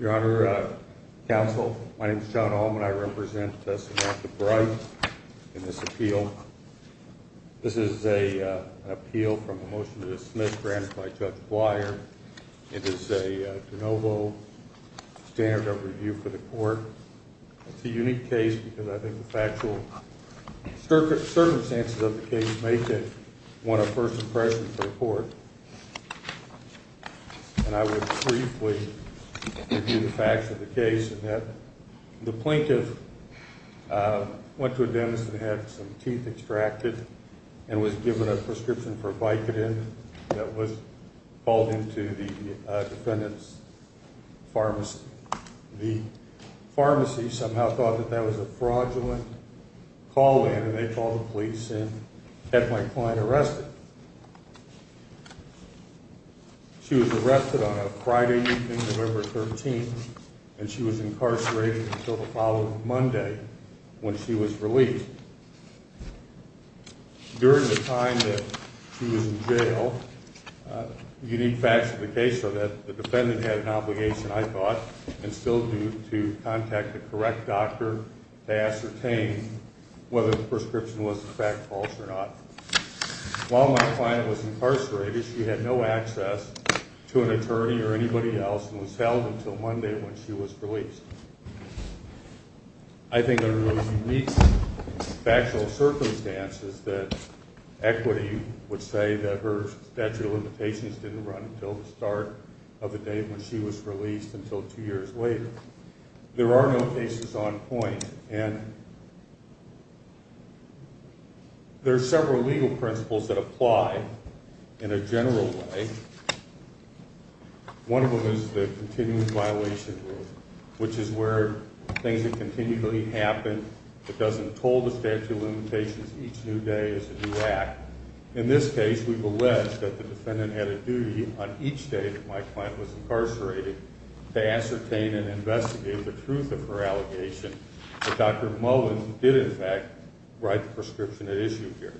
Your Honor, Counsel, my name is John Allman. I represent Samantha Bright in this appeal. This is an appeal from a motion to dismiss granted by Judge Blyer. It is a de novo standard of review for the court. It's a unique case because I think the factual circumstances of the case make it one of first impressions for the court. And I will briefly review the facts of the case in that the plaintiff went to a dentist and had some teeth extracted and was given a prescription for Vicodin that was called into the defendant's pharmacy. The pharmacy somehow thought that that was a fraudulent call-in and they called the police and had my client arrested. She was arrested on a Friday evening, November 13th, and she was incarcerated until the following Monday when she was released. During the time that she was in jail, the unique facts of the case are that the defendant had an obligation, I thought, and still do, to contact the correct doctor to ascertain whether the prescription was, in fact, false or not. While my client was incarcerated, she had no access to an I think there are those unique factual circumstances that equity would say that her statute of limitations didn't run until the start of the day when she was released until two years later. There are no cases on point, and there are several legal principles that apply in a general way. One of them is the continued violation rule, which is where things that continually happen that doesn't toll the statute of limitations each new day is a new act. In this case, we've alleged that the defendant had a duty on each day that my client was incarcerated to ascertain and investigate the truth of her allegation that Dr. Mullins did, in fact, write the prescription at issue here.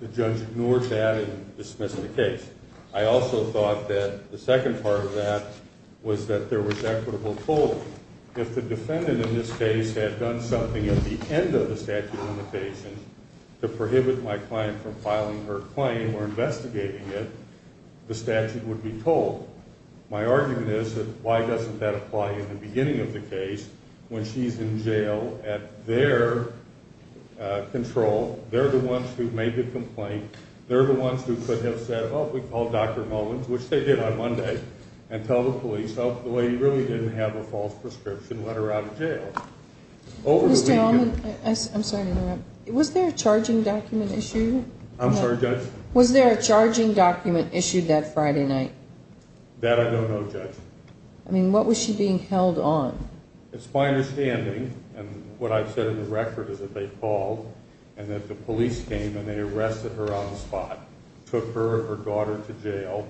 The judge ignored that and dismissed the case. I also thought that the second part of that was that there was equitable toll. If the defendant in this case had done something at the end of the statute of limitations to prohibit my client from filing her claim or investigating it, the statute would be tolled. My argument is that why doesn't that apply in the beginning of the case when she's in their control, they're the ones who made the complaint, they're the ones who could have said, oh, we called Dr. Mullins, which they did on Monday, and tell the police, oh, the lady really didn't have a false prescription, let her out of jail. Mr. Allman, I'm sorry to interrupt. Was there a charging document issued? I'm sorry, Judge? Was there a charging document issued that Friday night? That I don't know, Judge. I mean, what was she being held on? It's my understanding, and what I've said in the record is that they called and that the police came and they arrested her on the spot, took her and her daughter to jail.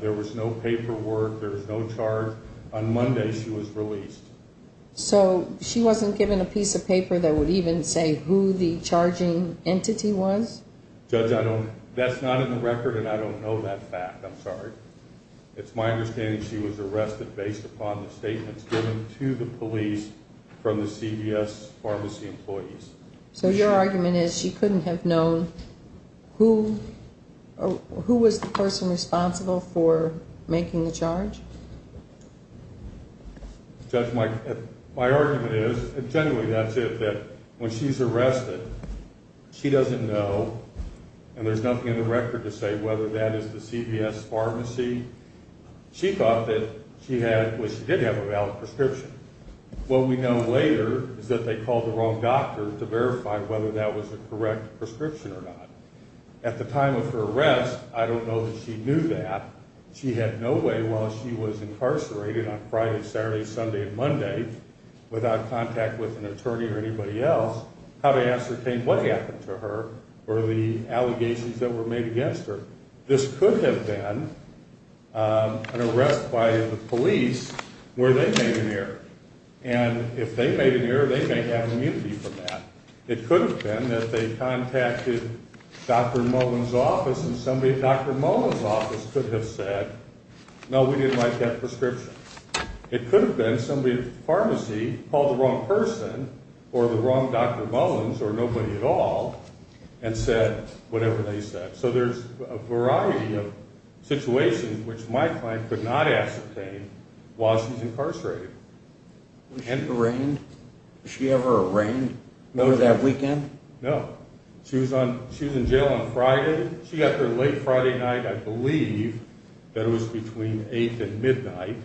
There was no paperwork, there was no charge. On Monday, she was released. So, she wasn't given a piece of paper that would even say who the charging entity was? Judge, I don't, that's not in the record and I don't know that fact, I'm sorry. It's my understanding she was arrested based upon the statements given to the police from the CVS Pharmacy employees. So, your argument is she couldn't have known who, who was the person responsible for making the charge? Judge, my argument is, and generally that's it, that when she's arrested, she doesn't know, and there's nothing in the record to say whether that is the CVS Pharmacy. She thought that she had, well, she did have a valid prescription. What we know later is that they called the wrong doctor to verify whether that was the correct prescription or not. At the time of her arrest, I don't know that she knew that. She had no way, while she was incarcerated on Friday, Saturday, Sunday, and Monday, without contact with an attorney or anybody else, how to ascertain what happened to her or the allegations that were made against her. This could have been an arrest by the police where they made an error. And if they made an error, they may have immunity from that. It could have been that they contacted Dr. Mullen's office and somebody at Dr. Mullen's office could have said, no, we didn't like that prescription. It could have been somebody at the pharmacy called the wrong person or the wrong Dr. Mullen's or nobody at all, and said whatever they said. So there's a variety of situations which my client could not ascertain while she's incarcerated. Was she arraigned? Was she ever arraigned? Noted that weekend? No. She was in jail on Friday. She got there late Friday night. I believe that it was between 8 and midnight.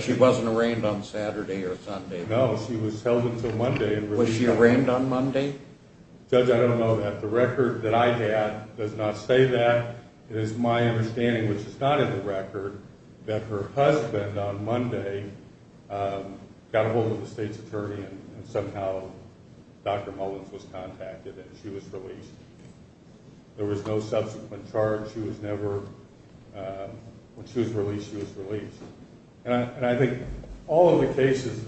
She wasn't arraigned on Saturday or Sunday? No, she was held until Monday. Was she arraigned on Monday? Judge, I don't know that. The record that I have does not say that. It is my understanding, which is not in the record, that her husband on Monday got a hold of the state's attorney and somehow Dr. Mullen's was contacted and she was released. There was no subsequent charge. She was never, when she was released, she was released. And I think all of the cases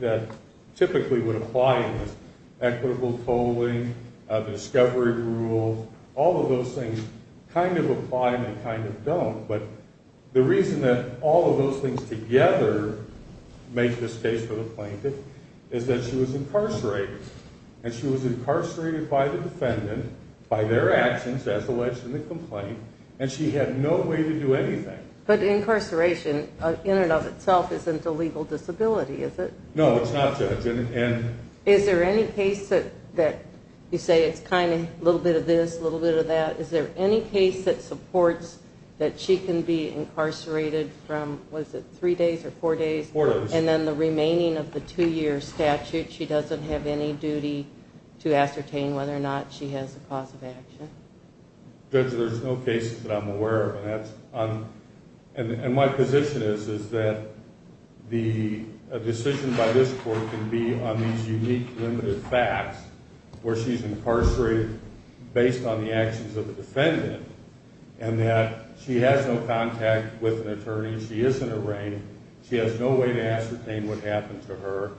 that typically would apply in this, equitable tolling, the discovery rules, all of those things kind of apply and they kind of don't. But the reason that all of those things together make this case for the plaintiff is that she was incarcerated. And she was incarcerated by the defendant, by their actions as alleged in the complaint, and she had no way to do anything. But incarceration in and of itself isn't a legal disability, is it? No, it's not, Judge. Is there any case that you say it's kind of a little bit of this, a little bit of that? Is there any case that supports that she can be incarcerated from, was it three days or four days? Four days. And then the remaining of the two-year statute, she doesn't have any duty to ascertain whether or not she has a cause of action? Judge, there's no cases that I'm aware of. And my position is that a decision by this court can be on these unique, limited facts where she's incarcerated based on the actions of the defendant, and that she has no contact with an attorney, she isn't arraigned, she has no way to ascertain what happened to her,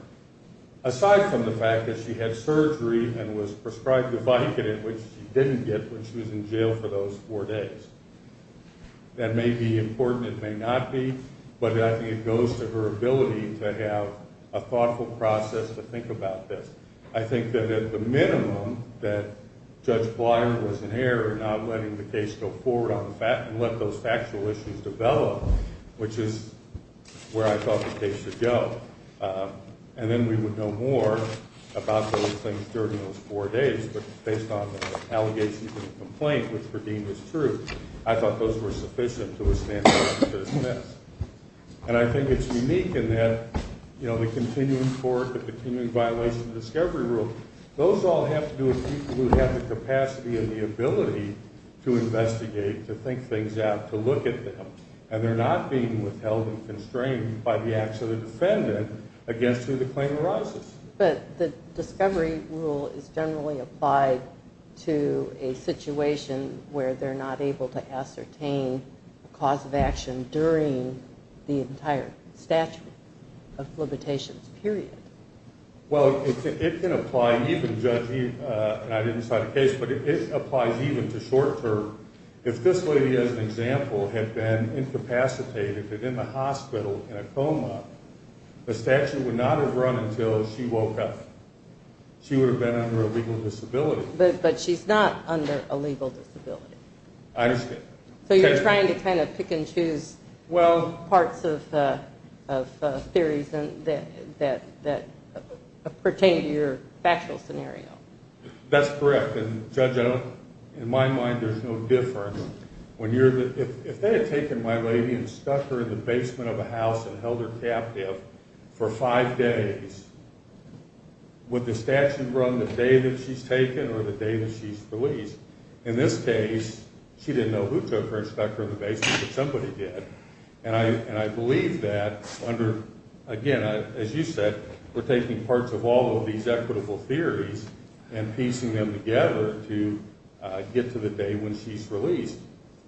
aside from the fact that she had surgery and was prescribed a Vicodin, which she didn't get when she was in jail for those four days. That may be important, it may not be, but I think it goes to her ability to have a thoughtful process to think about this. I think that at the minimum, that Judge Blyer was in error in not letting the case go forward and let those factual issues develop, which is where I thought the case should go. And then we would know more about those things during those four days, but based on the allegations and the complaint, which were deemed as true, I thought those were sufficient to withstand the rest of this test. And I think it's unique in that the continuing court, the continuing violation of the discovery rule, those all have to do with people who have the capacity and the ability to investigate, to think things out, to look at them, and they're not being withheld and constrained by the acts of the defendant against who the claim arises. But the discovery rule is generally applied to a situation where they're not able to ascertain a cause of action during the entire statute of limitations period. Well, it can apply even, Judge Eve, and I didn't cite a case, but it applies even to short term. If this lady, as an example, had been incapacitated and in the hospital in a coma, the statute would not have run until she woke up. She would have been under a legal disability. But she's not under a legal disability. I understand. So you're trying to kind of pick and choose, well, parts of theories that pertain to your factual scenario. That's correct. And Judge, in my mind, there's no difference. If they had taken my lady and stuck her in the basement of a house and held her captive for five days, would the statute run the day that she's taken or the day that she's released? In this case, she didn't know who took her and stuck her in the basement, but somebody did. And I believe that under, again, as you said, we're taking parts of all of these equitable theories and piecing them together to get to the day when she's released.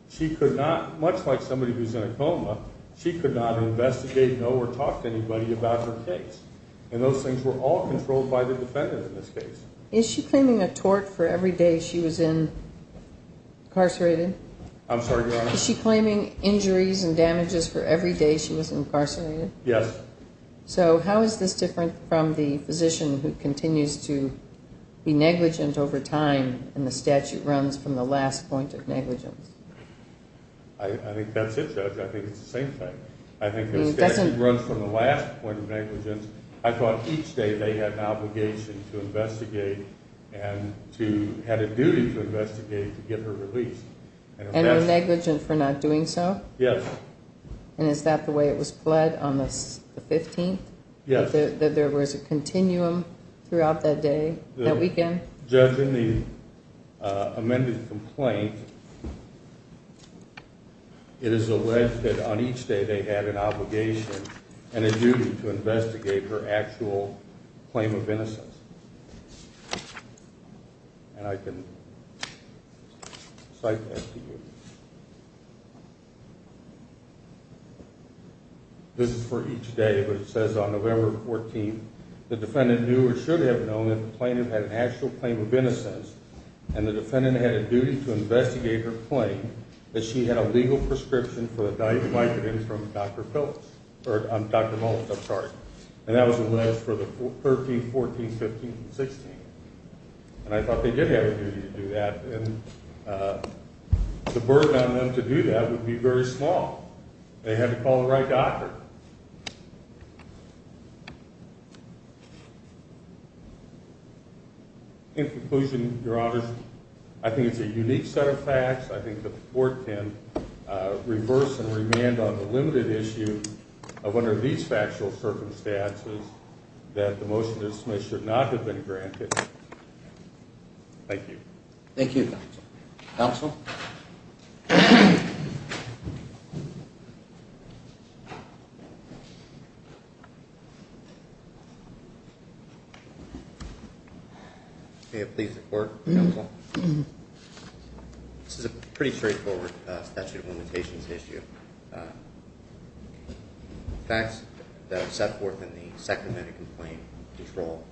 She could not, much like somebody who's in a coma, she could not investigate, know, or talk to anybody about her case. And those things were all controlled by the defendant in this case. Is she claiming a tort for every day she was incarcerated? I'm sorry, Your Honor? Is she claiming injuries and damages for every day she was incarcerated? Yes. So how is this different from the physician who continues to be negligent over time and the statute runs from the last point of negligence? I think that's it, Judge. I think it's the same thing. I think the statute runs from the last point of negligence. I thought each day they had an obligation to investigate and had a duty to investigate to get her released. And they're negligent for not doing so? Yes. And is that the way it was pled on the 15th? Yes. That there was a continuum throughout that day, that weekend? Judge, in the amended complaint, it is alleged that on each day they had an obligation and a duty to investigate her actual claim of innocence. And I can cite that to you. This is for each day, but it says on November 14th, the defendant knew or should have known that the plaintiff had an actual claim of innocence and the defendant had a duty to investigate her claim that she had a legal prescription from Dr. Maltz. And that was alleged for the 13th, 14th, 15th, and 16th. And I thought they did have a duty to do that. The burden on them to do that would be very small. They had to call the right doctor. In conclusion, Your Honors, I think it's a unique set of facts. I think the Court can reverse and remand on the limited issue of one of these factual circumstances that the motion to dismiss should not have been granted. Thank you. Thank you, Counsel. May it please the Court, Counsel? This is a pretty straightforward statute of limitations issue. The facts that are set forth in the second minute complaint control,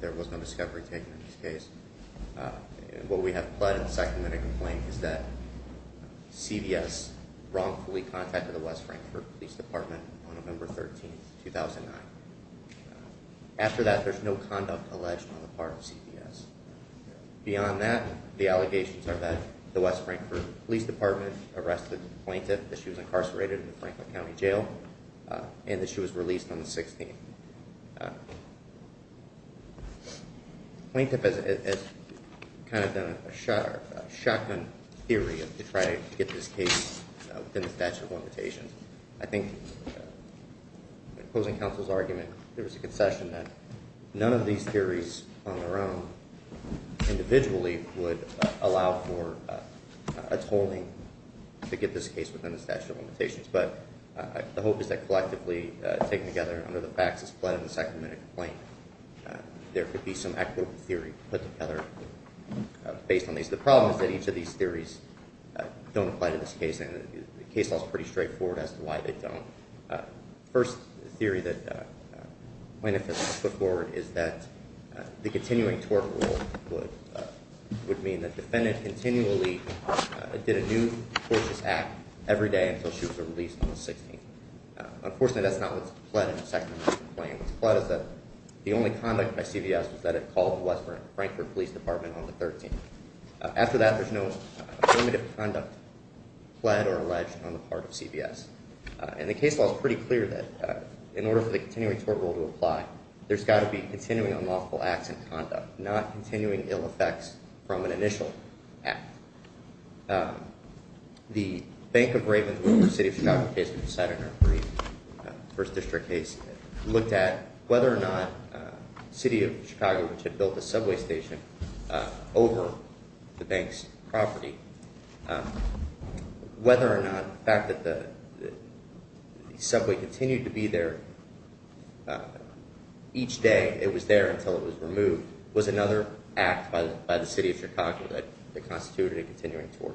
there was no discovery taken in this case. What we have pled in the second minute complaint is that CVS wrongfully contacted the West Frankfort Police Department on November 13th, 2009. After that, there's no conduct alleged on the part of CVS. Beyond that, the allegations are that the West Frankfort Police Department arrested the plaintiff, that she was incarcerated in the Frankfort County Jail, and that she was released on the 16th. Plaintiff has kind of done a shotgun theory to try to get this case within the statute of limitations. I think, opposing Counsel's argument, there was a concession that none of these theories on their own, individually, would allow for a tolling to get this case within the statute of limitations. But the hope is that collectively, taken together under the facts that's pled in the second minute complaint, there could be some equitable theory put together based on these. The problem is that each of these theories don't apply to this case, and the case law is pretty straightforward as to why they don't. The first theory that plaintiff has put forward is that the continuing tort rule would mean that the defendant continually did a new, tortious act every day until she was released on the 16th. Unfortunately, that's not what's pled in the second minute complaint. What's pled is that the only conduct by CVS was that it called the West Frankfort Police Department on the 13th. After that, there's no affirmative conduct pled or alleged on the part of CVS. And the case law is pretty clear that in order for the continuing tort rule to apply, there's got to be continuing unlawful acts in conduct, not continuing ill effects from an initial act. The Bank of Raven, the City of Chicago case, which was cited in our brief first district case, looked at whether or not the City of Chicago, which had built a subway station over the bank's property, whether or not the fact that the subway continued to be there each day it was there until it was removed was another act by the City of Chicago that constituted a continuing tort.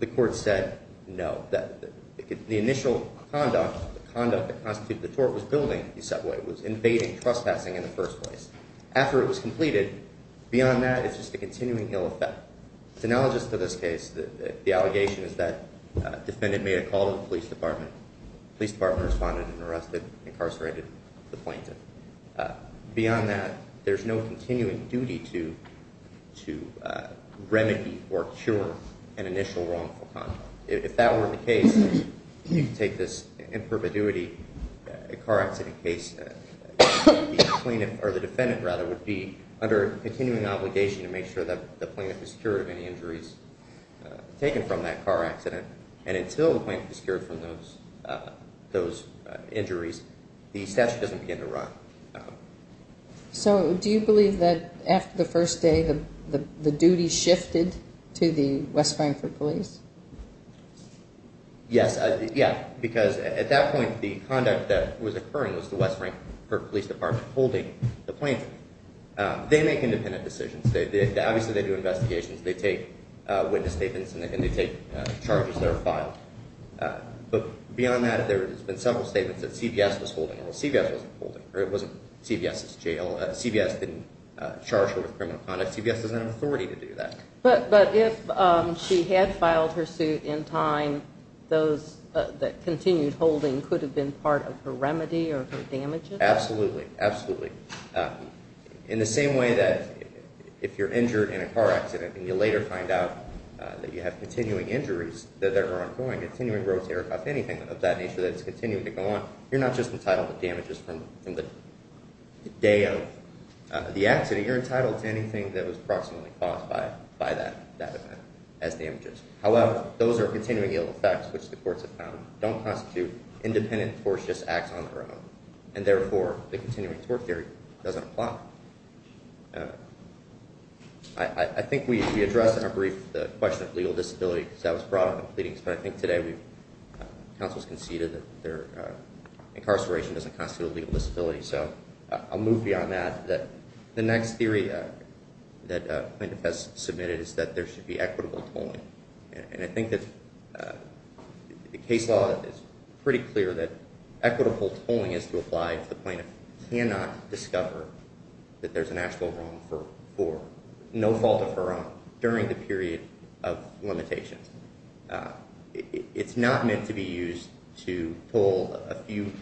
The court said no. The initial conduct that constituted the tort was building the subway. It was invading, trespassing in the first place. After it was completed, beyond that, it's just a continuing ill effect. It's analogous to this case. The allegation is that a defendant made a call to the police department. The police department responded and arrested and incarcerated the plaintiff. Beyond that, there's no continuing duty to remedy or cure an initial wrongful conduct. If that were the case, you could take this in perpetuity. A car accident case, the plaintiff or the defendant, rather, would be under a continuing obligation to make sure that the plaintiff is cured of any injuries taken from that car accident. Until the plaintiff is cured from those injuries, the statute doesn't begin to run. Do you believe that after the first day, the duty shifted to the West Frankfort police? Yes, because at that point, the conduct that was occurring was the West Frankfort police department holding the plaintiff. They make independent decisions. Obviously, they do investigations. They take witness statements and they take charges that are filed. Beyond that, there have been several statements that CBS was holding her. CBS wasn't holding her. It wasn't CBS's jail. CBS didn't charge her with criminal conduct. CBS doesn't have authority to do that. But if she had filed her suit in time, those that continued holding could have been part of her remedy or her damages? Absolutely. Absolutely. In the same way that if you're injured in a car accident and you later find out that you have continuing injuries that are ongoing, continuing road terror, anything of that nature that's continuing to go on, you're not just entitled to damages from the day of the accident. You're entitled to anything that was approximately caused by that event as damages. However, those are continuing ill effects, which the courts have found don't constitute independent torts, just acts on their own. And therefore, the continuing tort theory doesn't apply. I think we addressed in our brief the question of legal disability because that was brought up in pleadings, but I think today counsels conceded that incarceration doesn't constitute a legal disability. So I'll move beyond that. The next theory that plaintiff has submitted is that there should be equitable tolling. And I think that the case law is pretty clear that equitable tolling is to apply if the plaintiff cannot discover that there's an actual wrong for no fault of her own during the period of limitations. It's not meant to be used to toll a few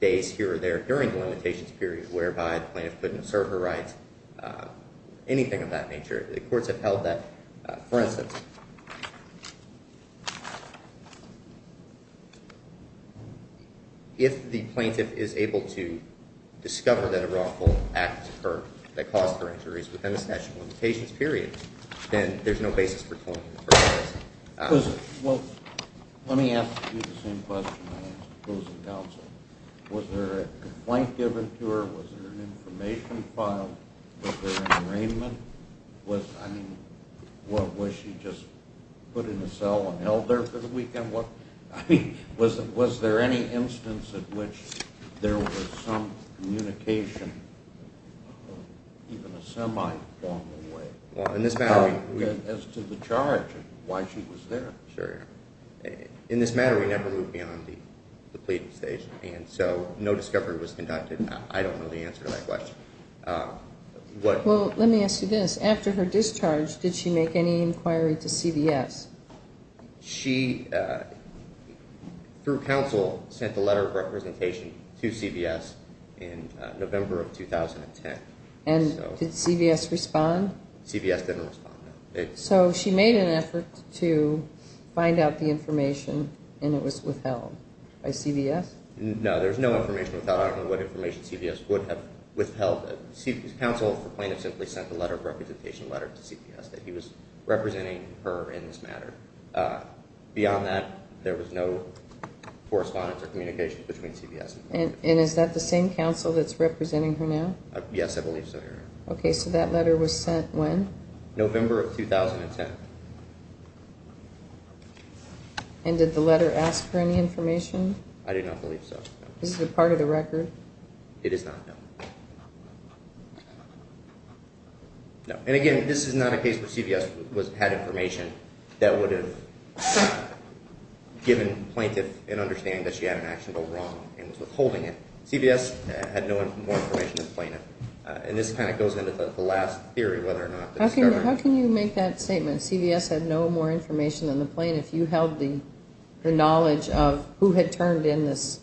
days here or there during the limitations period whereby the plaintiff couldn't serve her rights, anything of that nature. The courts have held that. For instance, if the plaintiff is able to discover that a wrongful act occurred that caused her injuries within a statute of limitations period, then there's no basis for tolling for her rights. Well, let me ask you the same question I asked opposing counsel. Was there a complaint given to her? Was there an information filed? Was there an arraignment? I mean, was she just put in a cell and held there for the weekend? I mean, was there any instance at which there was some communication, even a semi-formal way, as to the charge and why she was there? Sure. In this matter, we never moved beyond the pleading stage, and so no discovery was conducted. I don't know the answer to that question. Well, let me ask you this. After her discharge, did she make any inquiry to CVS? She, through counsel, sent a letter of representation to CVS in November of 2010. And did CVS respond? CVS didn't respond. So she made an effort to find out the information, and it was withheld by CVS? No, there was no information withheld. I don't know what information CVS would have withheld. Counsel for plaintiff simply sent a letter of representation letter to CVS that he was representing her in this matter. Beyond that, there was no correspondence or communication between CVS and plaintiff. And is that the same counsel that's representing her now? Yes, I believe so, Your Honor. Okay, so that letter was sent when? November of 2010. And did the letter ask for any information? I do not believe so. Is it part of the record? It is not, no. And, again, this is not a case where CVS had information that would have given plaintiff an understanding that she had an action to go wrong and was withholding it. CVS had no more information than plaintiff. And this kind of goes into the last theory, whether or not the discovery. How can you make that statement, that CVS had no more information than the plaintiff, if you held the knowledge of who had turned in this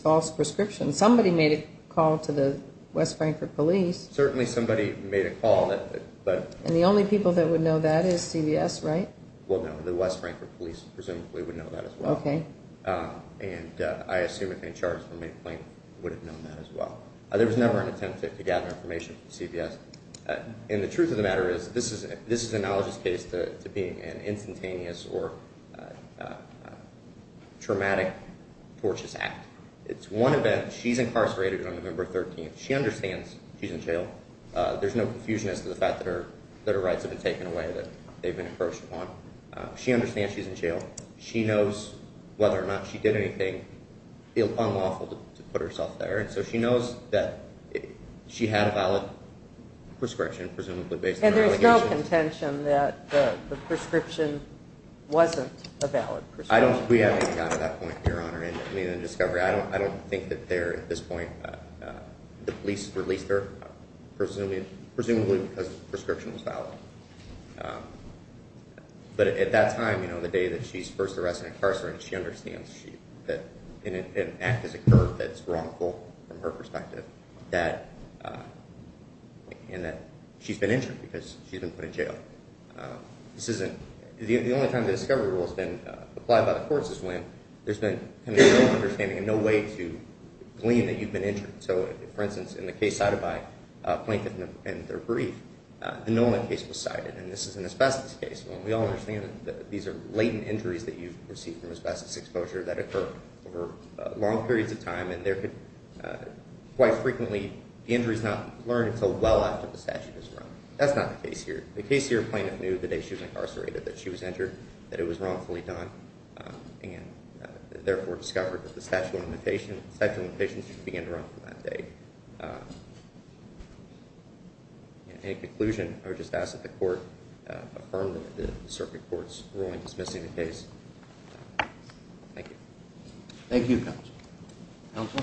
false prescription? Somebody made a call to the West Frankfort police. Certainly somebody made a call. And the only people that would know that is CVS, right? Well, no. The West Frankfort police presumably would know that as well. Okay. And I assume if any charges were made, the plaintiff would have known that as well. There was never an attempt to gather information from CVS. And the truth of the matter is, this is analogous case to being an instantaneous or traumatic tortious act. It's one event. She's incarcerated on November 13th. She understands she's in jail. There's no confusion as to the fact that her rights have been taken away, that they've been encroached upon. She understands she's in jail. She knows whether or not she did anything unlawful to put herself there. So she knows that she had a valid prescription, presumably based on allegations. And there's no contention that the prescription wasn't a valid prescription. We haven't gotten to that point, Your Honor, in the discovery. I don't think that there at this point the police released her, presumably because the prescription was valid. But at that time, you know, the day that she's first arrested and incarcerated, she understands that an act has occurred that's wrongful from her perspective and that she's been injured because she's been put in jail. This isn't the only time the discovery rule has been applied by the courts is when there's been kind of no understanding and no way to glean that you've been injured. So, for instance, in the case cited by Plaintiff in their brief, the Nolan case was cited. And this is an asbestos case. We all understand that these are latent injuries that you receive from asbestos exposure that occur over long periods of time. And quite frequently the injury is not learned until well after the statute is run. That's not the case here. The case here, Plaintiff knew the day she was incarcerated that she was injured, that it was wrongfully done, and therefore discovered that the statute of limitations should begin to run from that day. In conclusion, I would just ask that the court affirm the circuit court's ruling dismissing the case. Thank you. Thank you, counsel.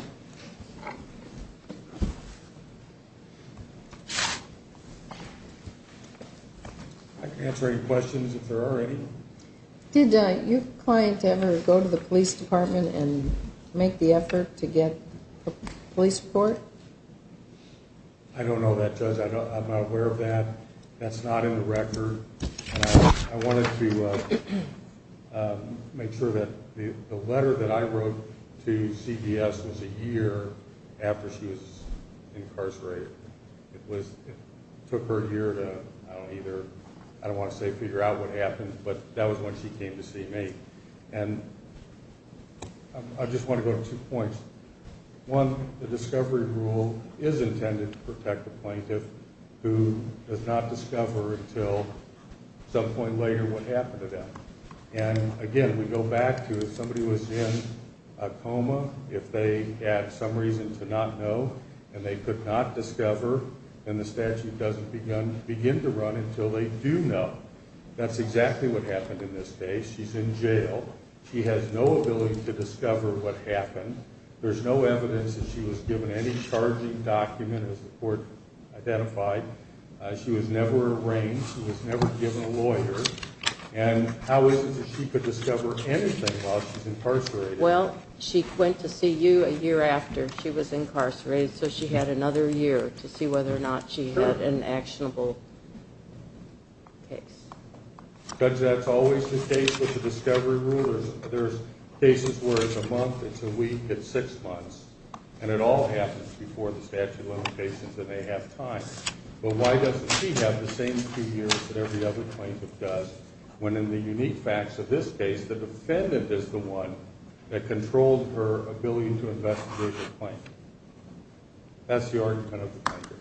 I can answer any questions if there are any. Did your client ever go to the police department and make the effort to get a police report? I don't know that, Judge. I'm not aware of that. That's not in the record. I wanted to make sure that the letter that I wrote to CBS was a year after she was incarcerated. It took her a year to, I don't want to say figure out what happened, but that was when she came to see me. And I just want to go to two points. One, the discovery rule is intended to protect the plaintiff who does not discover until some point later what happened to them. And, again, we go back to if somebody was in a coma, if they had some reason to not know and they could not discover, then the statute doesn't begin to run until they do know. That's exactly what happened in this case. She's in jail. She has no ability to discover what happened. There's no evidence that she was given any charging document, as the court identified. She was never arraigned. She was never given a lawyer. And how is it that she could discover anything while she's incarcerated? Well, she went to see you a year after she was incarcerated, so she had another year to see whether or not she had an actionable case. Judge, that's always the case with the discovery rule. There's cases where it's a month, it's a week, it's six months, and it all happens before the statute of limitations and they have time. But why doesn't she have the same two years that every other plaintiff does when, in the unique facts of this case, the defendant is the one that controlled her ability to investigate a claim? That's the argument of the plaintiff.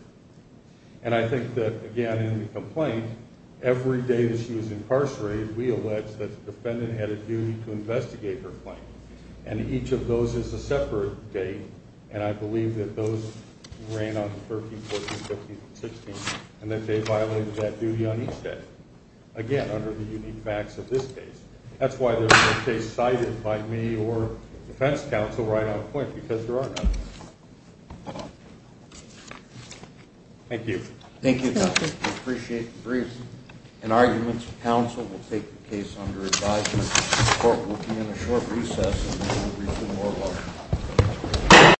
And I think that, again, in the complaint, every day that she was incarcerated, we allege that the defendant had a duty to investigate her claim, and each of those is a separate date, and I believe that those ran on the 13th, 14th, 15th, and 16th, and that they violated that duty on each day, again, under the unique facts of this case. That's why there's no case cited by me or defense counsel right on point because there are none. Thank you. Thank you, Justice. I appreciate the briefs and arguments. Counsel will take the case under advisement. The court will be in a short recess and we will resume oral argument.